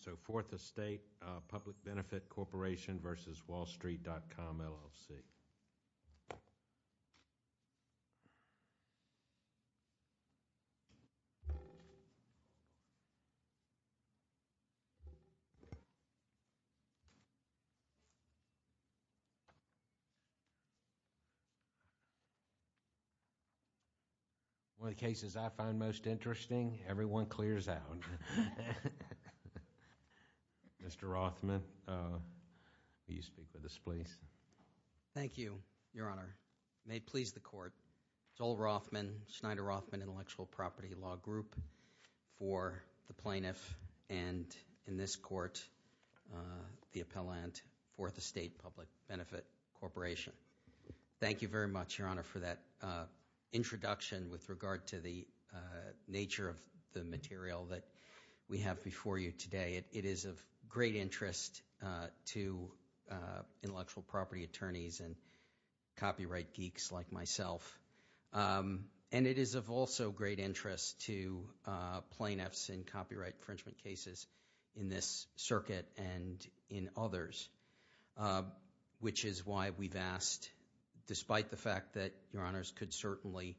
So, Fourth Estate Public Benefit Corporation v. Wall-Street.com, LLC. One of the cases I find most interesting, everyone clears out. Mr. Rothman, will you speak with us, please? Thank you, Your Honor. May it please the Court, Joel Rothman, Schneider Rothman Intellectual Property Law Group, for the plaintiff, and in this court, the appellant, Fourth Estate Public Benefit Corporation. Thank you very much, Your Honor, for that introduction with regard to the nature of the material that we have before you today. It is of great interest to intellectual property attorneys and copyright geeks like myself. And it is of also great interest to plaintiffs in copyright infringement cases in this circuit and in others, which is why we've asked, despite the fact that Your Honors could certainly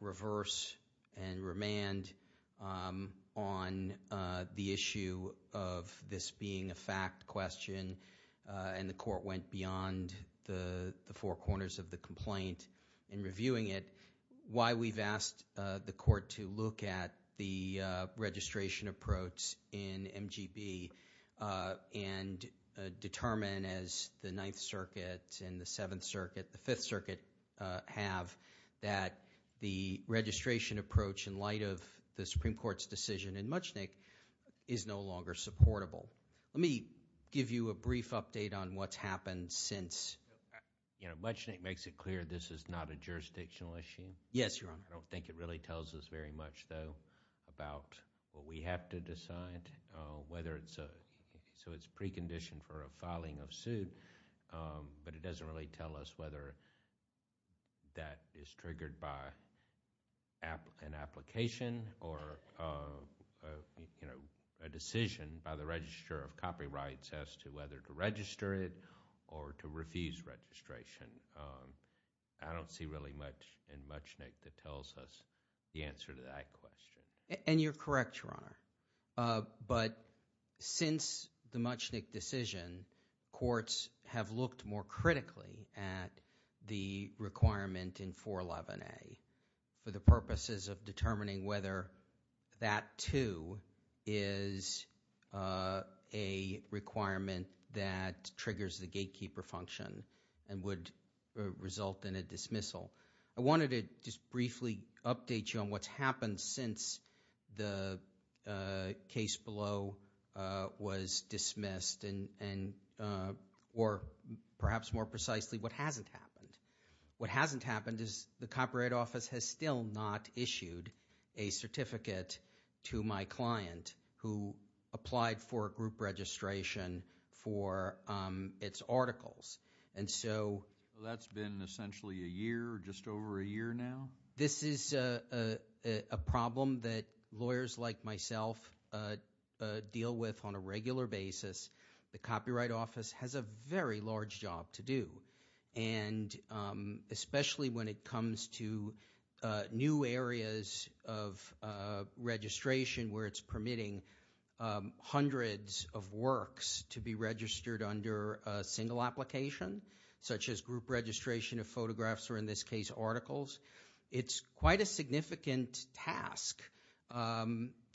reverse and remand on the issue of this being a fact question, and the Court went beyond the four corners of the complaint in reviewing it, why we've asked the Court to look at the registration approach in MGB and determine, as the Ninth Circuit and the Seventh Circuit, the Fifth Circuit have, that the registration approach, in light of the Supreme Court's decision in Muchnick, is no longer supportable. Let me give you a brief update on what's happened since. Muchnick makes it clear this is not a jurisdictional issue. Yes, Your Honor. I don't think it really tells us very much, though, about what we have to decide. So it's preconditioned for a filing of suit, but it doesn't really tell us whether that is triggered by an application or a decision by the Register of Copyrights as to whether to register it or to refuse registration. I don't see really much in Muchnick that tells us the answer to that question. And you're correct, Your Honor. But since the Muchnick decision, courts have looked more critically at the requirement in 411A for the purposes of determining whether that, too, is a requirement that triggers the gatekeeper function and would result in a dismissal. So I wanted to just briefly update you on what's happened since the case below was dismissed and – or perhaps more precisely, what hasn't happened. What hasn't happened is the Copyright Office has still not issued a certificate to my client who applied for a group registration for its articles. So that's been essentially a year or just over a year now? This is a problem that lawyers like myself deal with on a regular basis. The Copyright Office has a very large job to do, and especially when it comes to new areas of registration where it's permitting hundreds of works to be registered under a single application, such as group registration of photographs or, in this case, articles. It's quite a significant task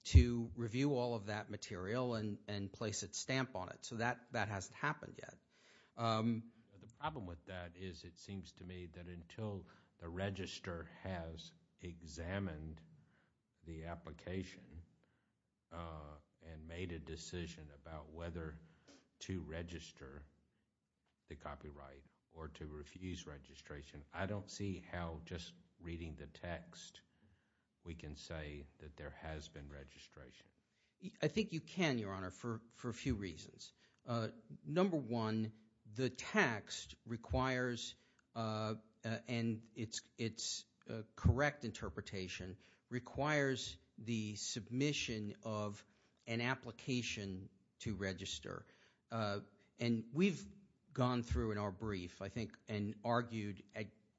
to review all of that material and place its stamp on it. So that hasn't happened yet. The problem with that is it seems to me that until the register has examined the application and made a decision about whether to register the copyright or to refuse registration, I don't see how just reading the text we can say that there has been registration. I think you can, Your Honor, for a few reasons. Number one, the text requires – and its correct interpretation – requires the submission of an application to register. And we've gone through in our brief, I think, and argued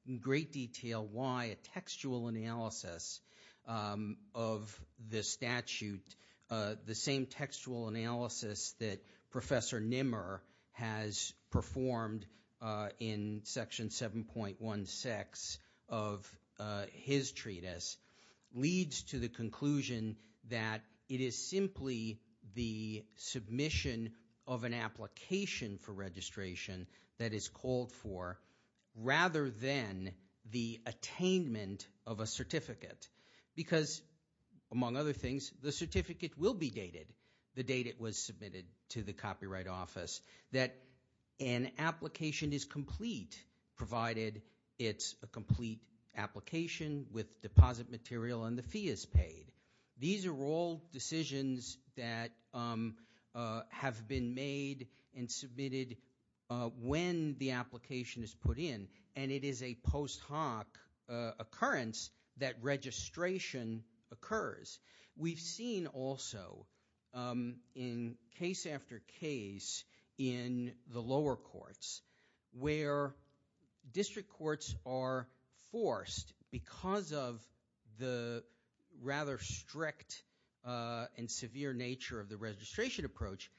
in great detail why a textual analysis of the statute, the same textual analysis that Professor Nimmer has performed in Section 7.16 of his treatise, leads to the conclusion that it is simply the submission of an application for registration that is called for rather than the attainment of a certificate. Because, among other things, the certificate will be dated the date it was submitted to the Copyright Office, that an application is complete provided it's a complete application with deposit material and the fee is paid. These are all decisions that have been made and submitted when the application is put in, and it is a post hoc occurrence that registration occurs. We've seen also in case after case in the lower courts where district courts are forced because of the rather strict and severe nature of the registration approach.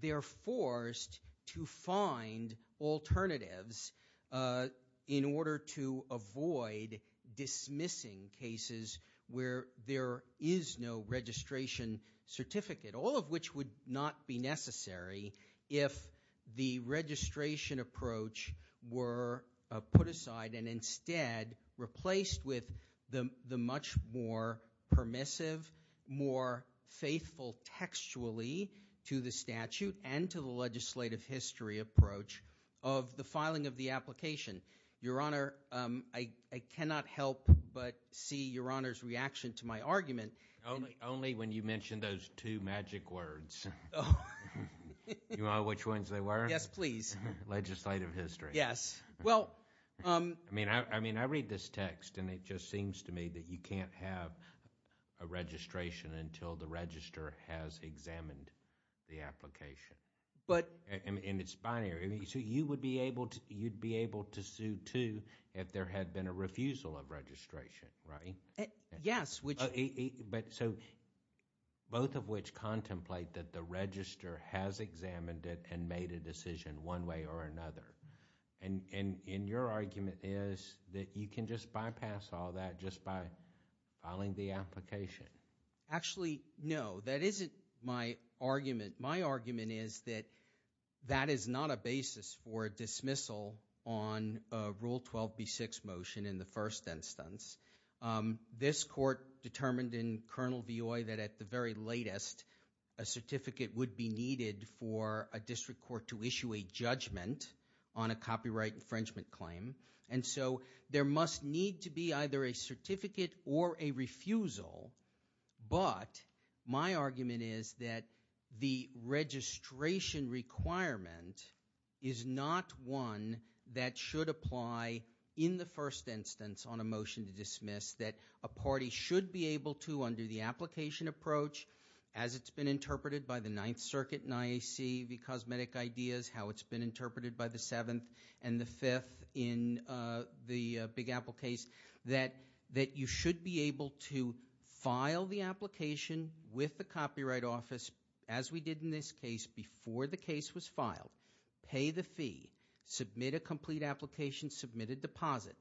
They're forced to find alternatives in order to avoid dismissing cases where there is no registration certificate. All of which would not be necessary if the registration approach were put aside and instead replaced with the much more permissive, more faithful textually to the statute and to the legislative history approach of the filing of the application. Your Honor, I cannot help but see Your Honor's reaction to my argument. Only when you mention those two magic words. You know which ones they were? Yes, please. Legislative history. Yes. Well. I mean, I read this text and it just seems to me that you can't have a registration until the register has examined the application. But. And it's binary. So you would be able to sue too if there had been a refusal of registration, right? Yes. So both of which contemplate that the register has examined it and made a decision one way or another. And your argument is that you can just bypass all that just by filing the application. Actually, no. That isn't my argument. My argument is that that is not a basis for dismissal on Rule 12B6 motion in the first instance. This court determined in Colonel Vioy that at the very latest a certificate would be needed for a district court to issue a judgment on a copyright infringement claim. And so there must need to be either a certificate or a refusal. But my argument is that the registration requirement is not one that should apply in the first instance on a motion to dismiss, that a party should be able to, under the application approach, as it's been interpreted by the Ninth Circuit in IAC v. Cosmetic Ideas, how it's been interpreted by the Seventh and the Fifth in the Big Apple case, that you should be able to file the application with the Copyright Office as we did in this case before the case was filed, pay the fee, submit a complete application, submit a deposit,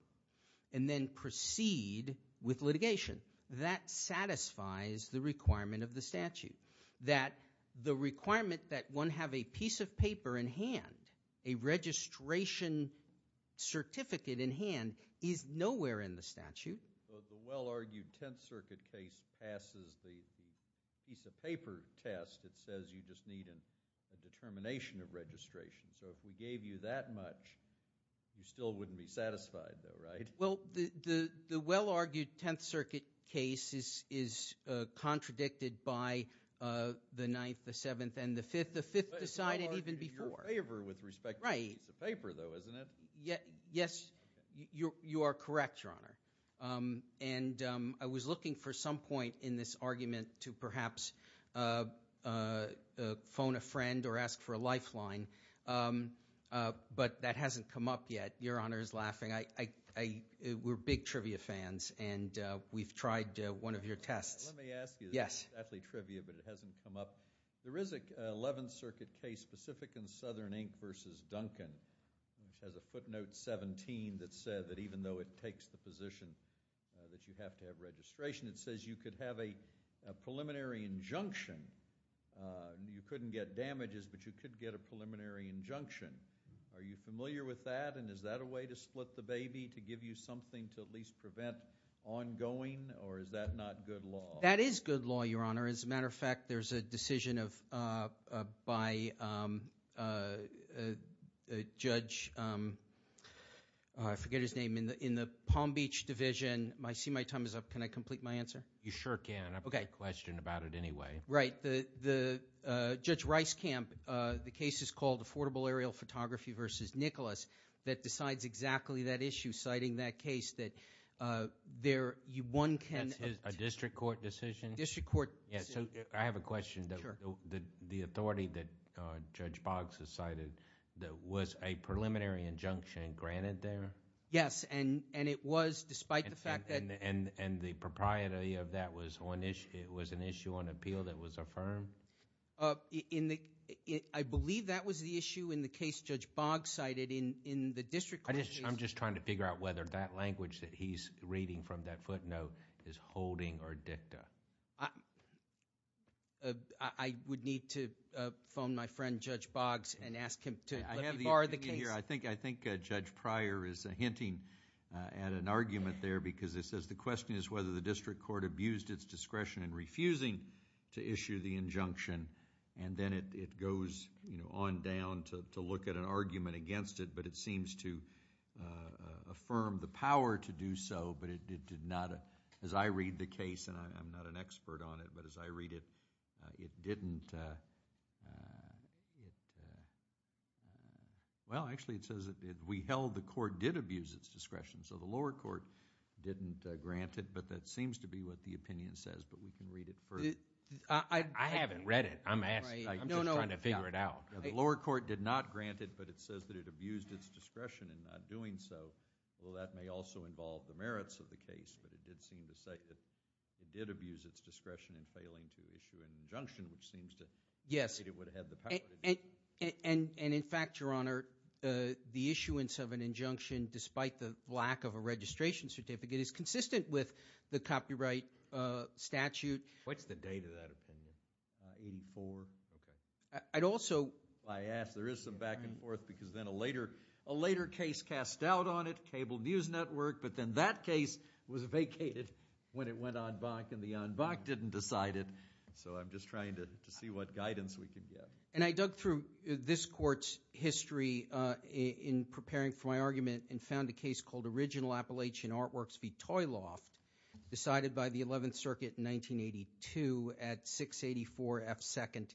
and then proceed with litigation. That satisfies the requirement of the statute. That the requirement that one have a piece of paper in hand, a registration certificate in hand, is nowhere in the statute. Well, the well-argued Tenth Circuit case passes the piece of paper test that says you just need a determination of registration. So if we gave you that much, you still wouldn't be satisfied though, right? Well, the well-argued Tenth Circuit case is contradicted by the Ninth, the Seventh, and the Fifth. The Fifth decided even before. It's well-argued in your favor with respect to the piece of paper though, isn't it? Yes, you are correct, Your Honor. And I was looking for some point in this argument to perhaps phone a friend or ask for a lifeline, but that hasn't come up yet. Your Honor is laughing. We're big trivia fans, and we've tried one of your tests. Let me ask you. Yes. It's definitely trivia, but it hasn't come up. There is an Eleventh Circuit case specific in Southern Inc. v. Duncan, which has a footnote 17 that said that even though it takes the position that you have to have registration, it says you could have a preliminary injunction. You couldn't get damages, but you could get a preliminary injunction. Are you familiar with that, and is that a way to split the baby to give you something to at least prevent ongoing, or is that not good law? That is good law, Your Honor. As a matter of fact, there's a decision by Judge – I forget his name – in the Palm Beach Division. I see my time is up. Can I complete my answer? You sure can. I have a question about it anyway. Right. Judge Reiskamp, the case is called Affordable Aerial Photography v. Nicholas, that decides exactly that issue, citing that case that one can – That's a district court decision? District court. I have a question. Sure. The authority that Judge Boggs has cited, was a preliminary injunction granted there? Yes, and it was despite the fact that – And the propriety of that was an issue on appeal that was affirmed? I believe that was the issue in the case Judge Boggs cited in the district court case. I'm just trying to figure out whether that language that he's reading from that footnote is holding or dicta. I would need to phone my friend, Judge Boggs, and ask him to let me borrow the case. I think Judge Pryor is hinting at an argument there because it says, the question is whether the district court abused its discretion in refusing to issue the injunction, and then it goes on down to look at an argument against it, but it seems to affirm the power to do so, but it did not, as I read the case, and I'm not an expert on it, but as I read it, it didn't... Well, actually it says that we held the court did abuse its discretion, so the lower court didn't grant it, but that seems to be what the opinion says, but we can read it further. I haven't read it. I'm just trying to figure it out. The lower court did not grant it, but it says that it abused its discretion in not doing so. Well, that may also involve the merits of the case, but it did seem to say that it did abuse its discretion in failing to issue an injunction, and in fact, Your Honor, the issuance of an injunction, despite the lack of a registration certificate, is consistent with the copyright statute. What's the date of that opinion? 1984. Okay. I'd also... I asked. There is some back and forth because then a later case cast doubt on it, Cable News Network, but then that case was vacated when it went en banc, and the en banc didn't decide it, so I'm just trying to see what guidance we can get. And I dug through this court's history in preparing for my argument and found a case called Original Appalachian Artworks v. Toy Loft, decided by the 11th Circuit in 1982 at 684 F. 2nd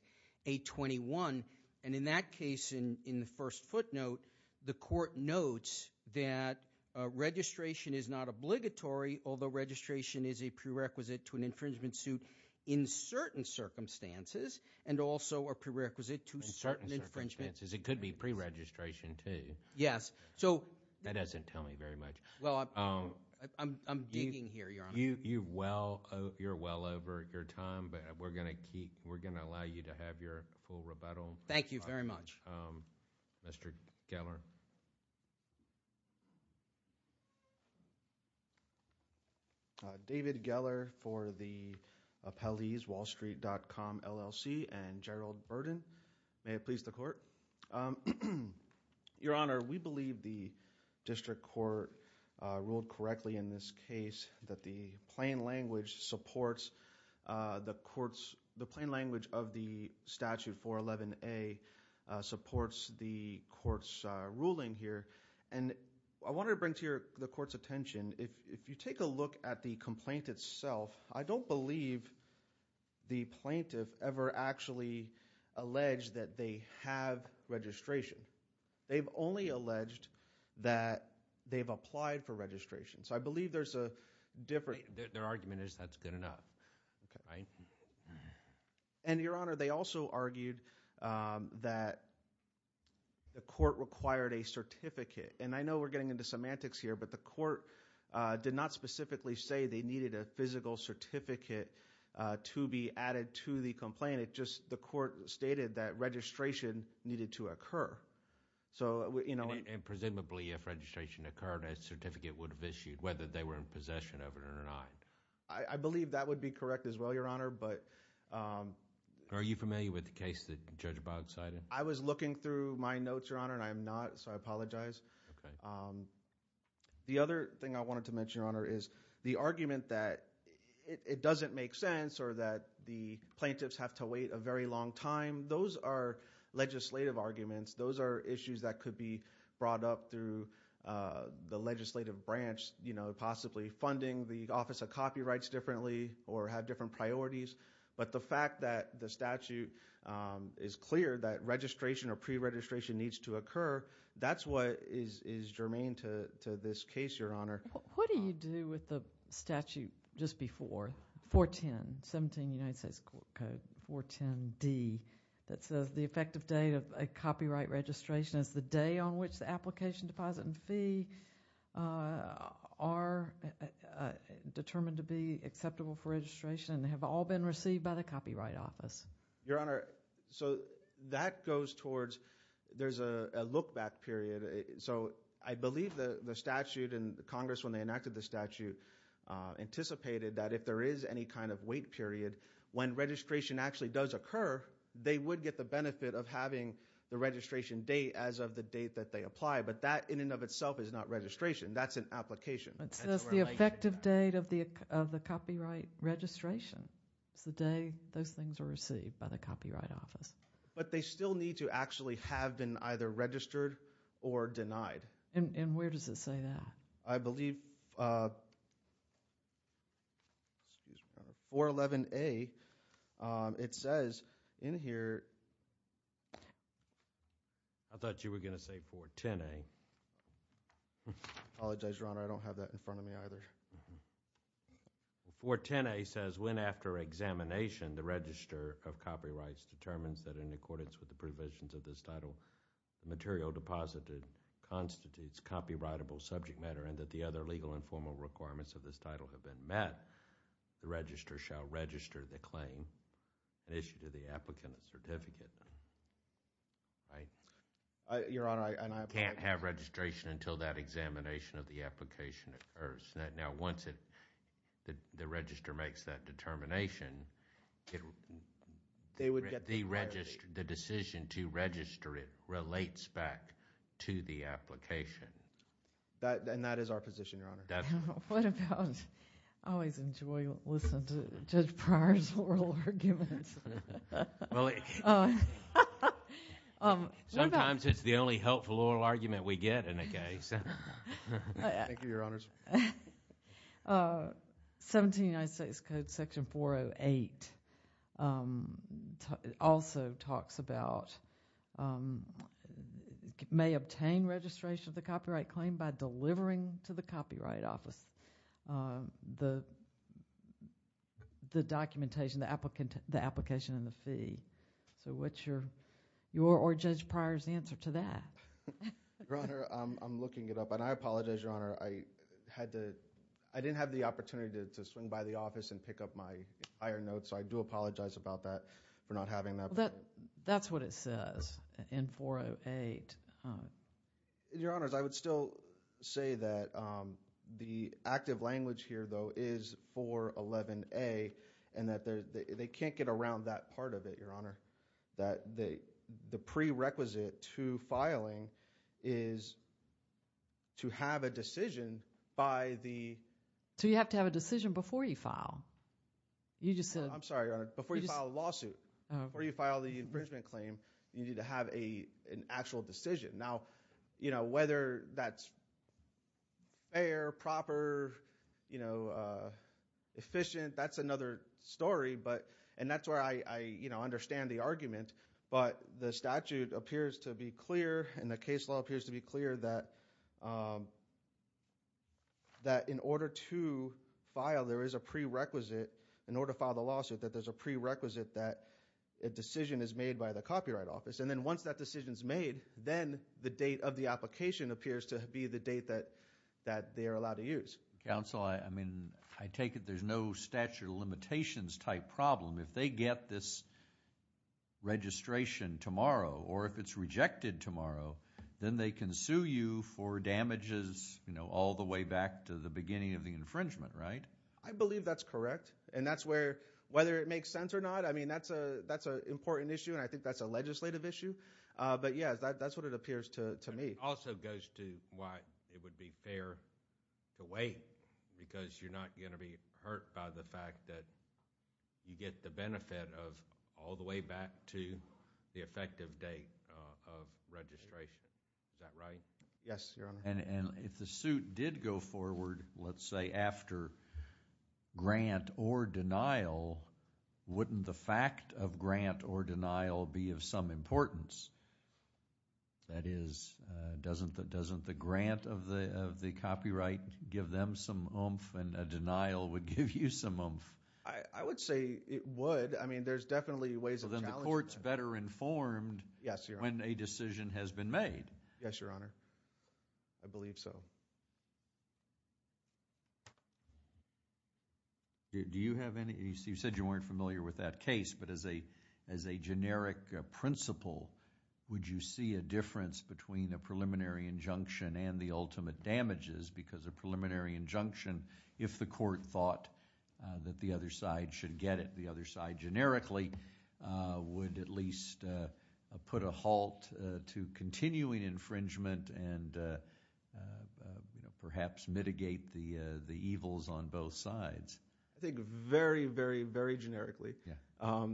821, and in that case, in the first footnote, the court notes that registration is not obligatory, although registration is a prerequisite to an infringement suit in certain circumstances and also a prerequisite to certain infringements. In certain circumstances. It could be preregistration too. Yes. That doesn't tell me very much. Well, I'm digging here, Your Honor. You're well over your time, but we're going to allow you to have your full rebuttal. Thank you very much. Mr. Geller. David Geller for the appellees, WallStreet.com, LLC, and Gerald Burden. May it please the court. Your Honor, we believe the district court ruled correctly in this case that the plain language supports the court's – and I want to bring to the court's attention, if you take a look at the complaint itself, I don't believe the plaintiff ever actually alleged that they have registration. They've only alleged that they've applied for registration. So I believe there's a different – Their argument is that's good enough, right? And, Your Honor, they also argued that the court required a certificate, and I know we're getting into semantics here, but the court did not specifically say they needed a physical certificate to be added to the complaint. It just – the court stated that registration needed to occur. And presumably, if registration occurred, a certificate would have issued, whether they were in possession of it or not. I believe that would be correct as well, Your Honor, but – Are you familiar with the case that Judge Boggs cited? I was looking through my notes, Your Honor, and I am not, so I apologize. The other thing I wanted to mention, Your Honor, is the argument that it doesn't make sense or that the plaintiffs have to wait a very long time, those are legislative arguments. Those are issues that could be brought up through the legislative branch, possibly funding the Office of Copyrights differently or have different priorities. But the fact that the statute is clear that registration or preregistration needs to occur, that's what is germane to this case, Your Honor. What do you do with the statute just before 410, 17 United States Court Code, 410D, that says the effective date of a copyright registration is the day on which the application, deposit, and fee are determined to be acceptable for registration and have all been received by the Copyright Office? Your Honor, so that goes towards – there's a look-back period. So I believe the statute and Congress, when they enacted the statute, anticipated that if there is any kind of wait period, when registration actually does occur, they would get the benefit of having the registration date as of the date that they apply. But that in and of itself is not registration. That's an application. That's the effective date of the copyright registration. It's the day those things are received by the Copyright Office. But they still need to actually have been either registered or denied. And where does it say that? I believe – 411A, it says in here – I thought you were going to say 410A. I apologize, Your Honor. I don't have that in front of me either. 410A says when after examination the register of copyrights determines that in accordance with the provisions of this title, the material deposited constitutes copyrightable subject matter and that the other legal and formal requirements of this title have been met, the register shall register the claim and issue to the applicant a certificate. Right? Your Honor, I – Can't have registration until that examination of the application occurs. Now once the register makes that determination, the decision to register it relates back to the application. And that is our position, Your Honor. What about – I always enjoy listening to Judge Pryor's oral arguments. Well, sometimes it's the only helpful oral argument we get in a case. Thank you, Your Honors. 17 United States Code Section 408 also talks about may obtain registration of the copyright claim by delivering to the Copyright Office the documentation, the application and the fee. So what's your – or Judge Pryor's answer to that? Your Honor, I'm looking it up, and I apologize, Your Honor. I had to – I didn't have the opportunity to swing by the office and pick up my iron notes, so I do apologize about that for not having that. That's what it says in 408. Your Honors, I would still say that the active language here, though, is 411A and that they can't get around that part of it, Your Honor, that the prerequisite to filing is to have a decision by the – So you have to have a decision before you file. You just said – I'm sorry, Your Honor. Before you file a lawsuit, before you file the infringement claim, you need to have an actual decision. Now, whether that's fair, proper, efficient, that's another story. And that's where I understand the argument. But the statute appears to be clear and the case law appears to be clear that in order to file, there is a prerequisite. In order to file the lawsuit, that there's a prerequisite that a decision is made by the Copyright Office. And then once that decision is made, then the date of the application appears to be the date that they are allowed to use. Counsel, I mean, I take it there's no statute of limitations type problem. If they get this registration tomorrow or if it's rejected tomorrow, then they can sue you for damages all the way back to the beginning of the infringement, right? I believe that's correct, and that's where – whether it makes sense or not, I mean, that's an important issue and I think that's a legislative issue. But, yes, that's what it appears to me. It also goes to why it would be fair to wait because you're not going to be hurt by the fact that you get the benefit of all the way back to the effective date of registration. Is that right? Yes, Your Honor. And if the suit did go forward, let's say after grant or denial, wouldn't the fact of grant or denial be of some importance? That is, doesn't the grant of the copyright give them some oomph and a denial would give you some oomph? I would say it would. I mean, there's definitely ways of challenging that. So then the court's better informed when a decision has been made. Yes, Your Honor. I believe so. Do you have any – you said you weren't familiar with that case, but as a generic principle, would you see a difference between a preliminary injunction and the ultimate damages because a preliminary injunction, if the court thought that the other side should get it, the other side generically, would at least put a halt to continuing infringement and perhaps mitigate the evils on both sides? I think very, very, very generically. A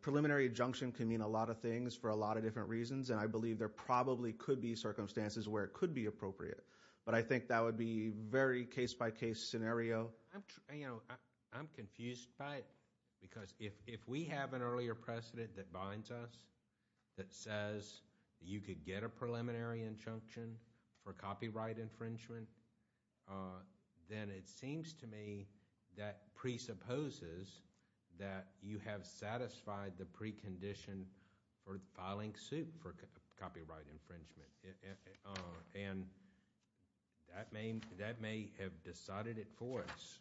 preliminary injunction can mean a lot of things for a lot of different reasons, and I believe there probably could be circumstances where it could be appropriate. But I think that would be a very case-by-case scenario. I'm confused by it because if we have an earlier precedent that binds us that says you could get a preliminary injunction for copyright infringement, then it seems to me that presupposes that you have satisfied the precondition for filing suit for copyright infringement. And that may have decided it for us.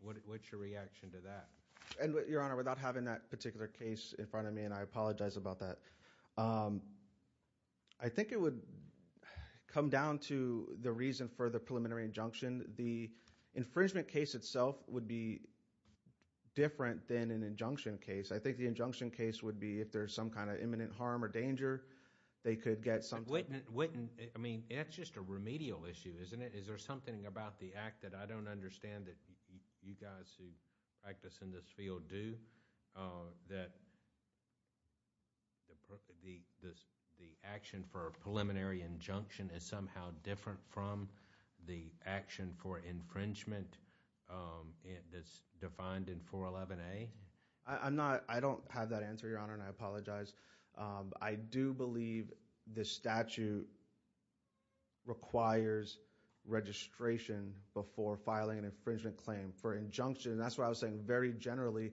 What's your reaction to that? Your Honor, without having that particular case in front of me, and I apologize about that, I think it would come down to the reason for the preliminary injunction. The infringement case itself would be different than an injunction case. I think the injunction case would be if there's some kind of imminent harm or danger, they could get something. It's just a remedial issue, isn't it? Is there something about the act that I don't understand that you guys who practice in this field do? That the action for a preliminary injunction is somehow different from the action for infringement that's defined in 411A? I don't have that answer, Your Honor, and I apologize. I do believe the statute requires registration before filing an infringement claim for injunction. And that's why I was saying very generally,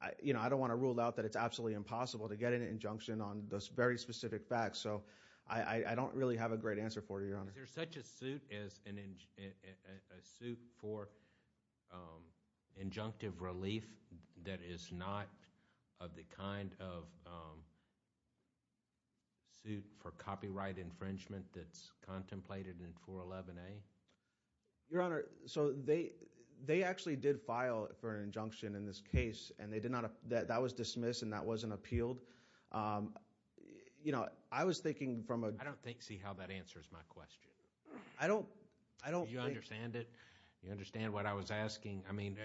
I don't want to rule out that it's absolutely impossible to get an injunction on those very specific facts. So I don't really have a great answer for you, Your Honor. Is there such a suit as a suit for injunctive relief that is not of the kind of suit for copyright infringement that's contemplated in 411A? Your Honor, so they actually did file for an injunction in this case and that was dismissed and that wasn't appealed. I was thinking from a— I don't see how that answers my question. I don't think— Do you understand it? Do you understand what I was asking? I mean,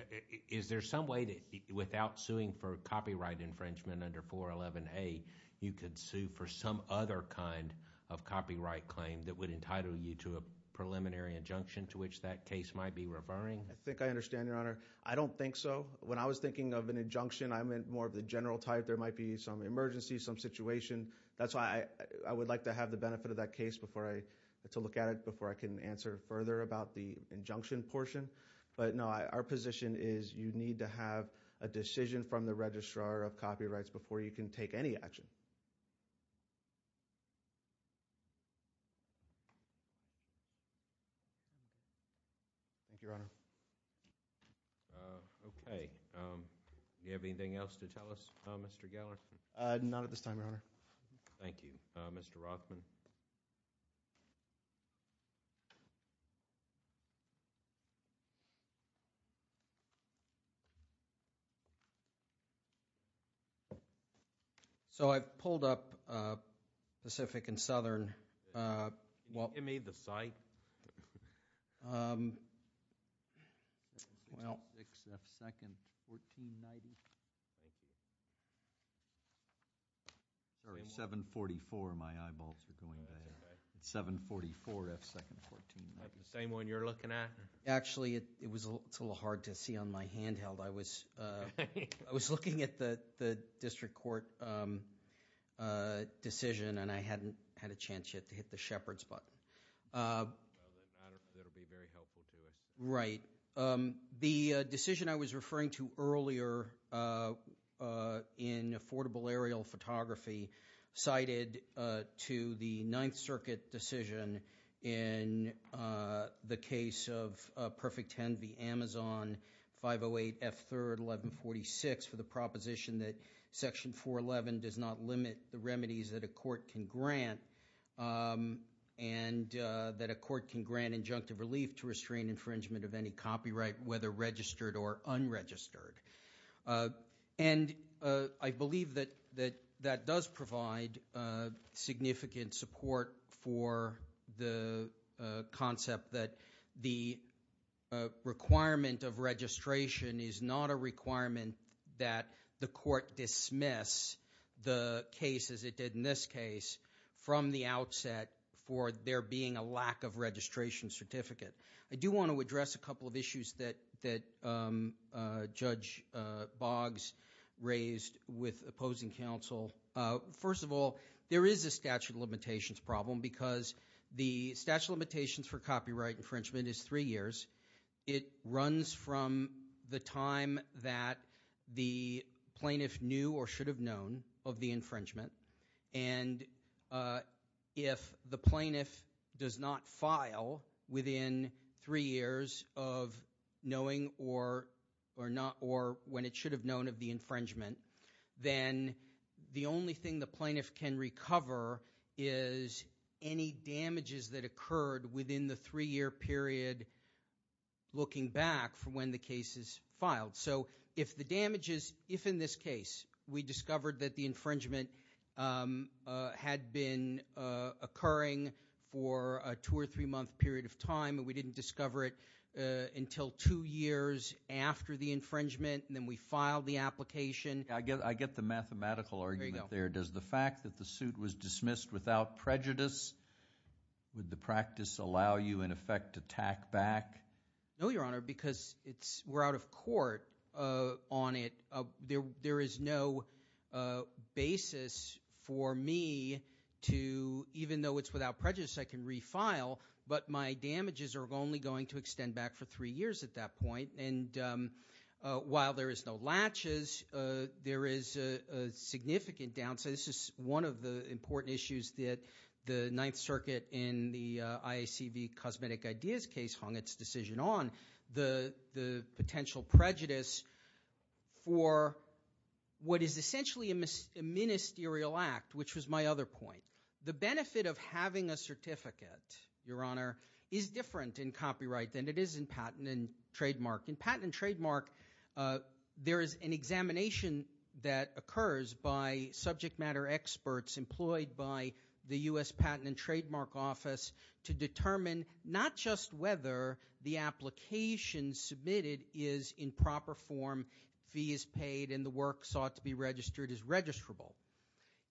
is there some way that without suing for copyright infringement under 411A, you could sue for some other kind of copyright claim that would entitle you to a preliminary injunction to which that case might be referring? I think I understand, Your Honor. I don't think so. When I was thinking of an injunction, I meant more of the general type. There might be some emergency, some situation. That's why I would like to have the benefit of that case to look at it before I can answer further about the injunction portion. But no, our position is you need to have a decision from the Registrar of Copyrights before you can take any action. Thank you, Your Honor. Okay. Do you have anything else to tell us, Mr. Geller? Not at this time, Your Honor. Thank you. Mr. Rothman? So I've pulled up Pacific and Southern. Can you give me the site? 6F 2nd, 1490. Thank you. 744, my eyeballs are going there. 744F 2nd, 1490. Is that the same one you're looking at? Actually, it's a little hard to see on my handheld. I was looking at the district court decision and I hadn't had a chance yet to hit the shepherd's button. That will be very helpful to us. Right. So the decision I was referring to earlier in affordable aerial photography cited to the Ninth Circuit decision in the case of Perfect Ten v. Amazon, 508F 3rd, 1146 for the proposition that Section 411 does not limit the remedies that a court can grant and that a court can grant injunctive relief to restrain infringement of any copyright, whether registered or unregistered. And I believe that that does provide significant support for the concept that the requirement of registration is not a requirement that the court dismiss the case, as it did in this case, from the outset for there being a lack of registration certificate. I do want to address a couple of issues that Judge Boggs raised with opposing counsel. First of all, there is a statute of limitations problem because the statute of limitations for copyright infringement is three years. It runs from the time that the plaintiff knew or should have known of the infringement. And if the plaintiff does not file within three years of knowing or not or when it should have known of the infringement, then the only thing the plaintiff can recover is any damages that occurred within the three-year period looking back from when the case is filed. So if the damages, if in this case we discovered that the infringement had been occurring for a two- or three-month period of time and we didn't discover it until two years after the infringement and then we filed the application. I get the mathematical argument there. Does the fact that the suit was dismissed without prejudice, would the practice allow you in effect to tack back? No, Your Honor, because we're out of court on it. There is no basis for me to, even though it's without prejudice, I can refile, but my damages are only going to extend back for three years at that point. And while there is no latches, there is a significant downside. This is one of the important issues that the Ninth Circuit in the IACV Cosmetic Ideas case hung its decision on, the potential prejudice for what is essentially a ministerial act, which was my other point. The benefit of having a certificate, Your Honor, is different in copyright than it is in patent and trademark. In patent and trademark, there is an examination that occurs by subject matter experts employed by the U.S. Patent and Trademark Office to determine not just whether the application submitted is in proper form, fee is paid, and the work sought to be registered is registrable.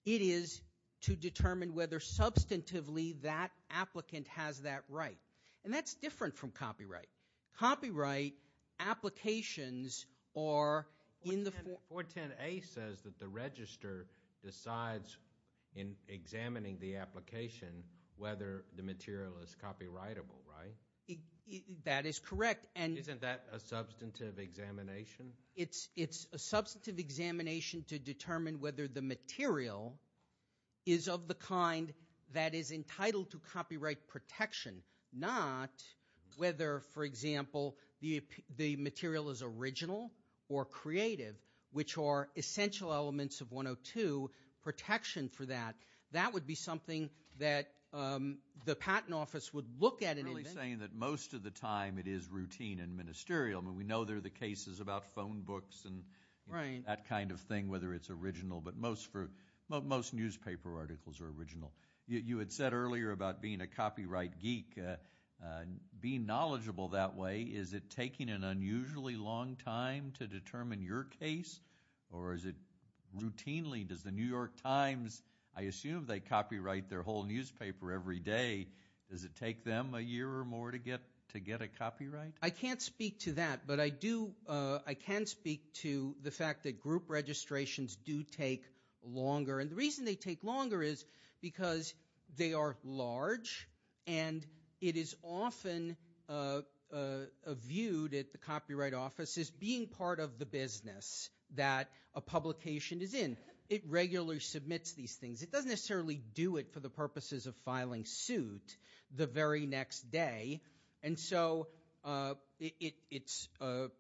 It is to determine whether substantively that applicant has that right. And that's different from copyright. Copyright applications are in the form. 410A says that the register decides in examining the application whether the material is copyrightable, right? That is correct. Isn't that a substantive examination? It's a substantive examination to determine whether the material is of the kind that is entitled to copyright protection, not whether, for example, the material is original or creative, which are essential elements of 102 protection for that. That would be something that the Patent Office would look at. You're really saying that most of the time it is routine and ministerial. I mean, we know there are the cases about phone books and that kind of thing, whether it's original, but most newspaper articles are original. You had said earlier about being a copyright geek. Being knowledgeable that way, is it taking an unusually long time to determine your case, or is it routinely? Does the New York Times, I assume they copyright their whole newspaper every day. Does it take them a year or more to get a copyright? I can't speak to that, but I can speak to the fact that group registrations do take longer. And the reason they take longer is because they are large, and it is often viewed at the Copyright Office as being part of the business that a publication is in. It regularly submits these things. It doesn't necessarily do it for the purposes of filing suit the very next day. And so it's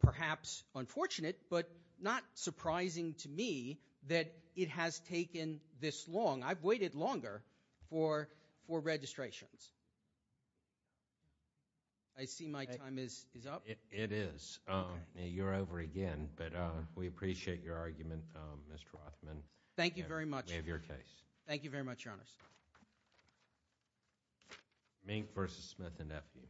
perhaps unfortunate, but not surprising to me that it has taken this long. I've waited longer for registrations. I see my time is up. It is. You're over again, but we appreciate your argument, Mr. Rothman. Thank you very much. We have your case. Thank you very much, Your Honor. Mink v. Smith & Nephew.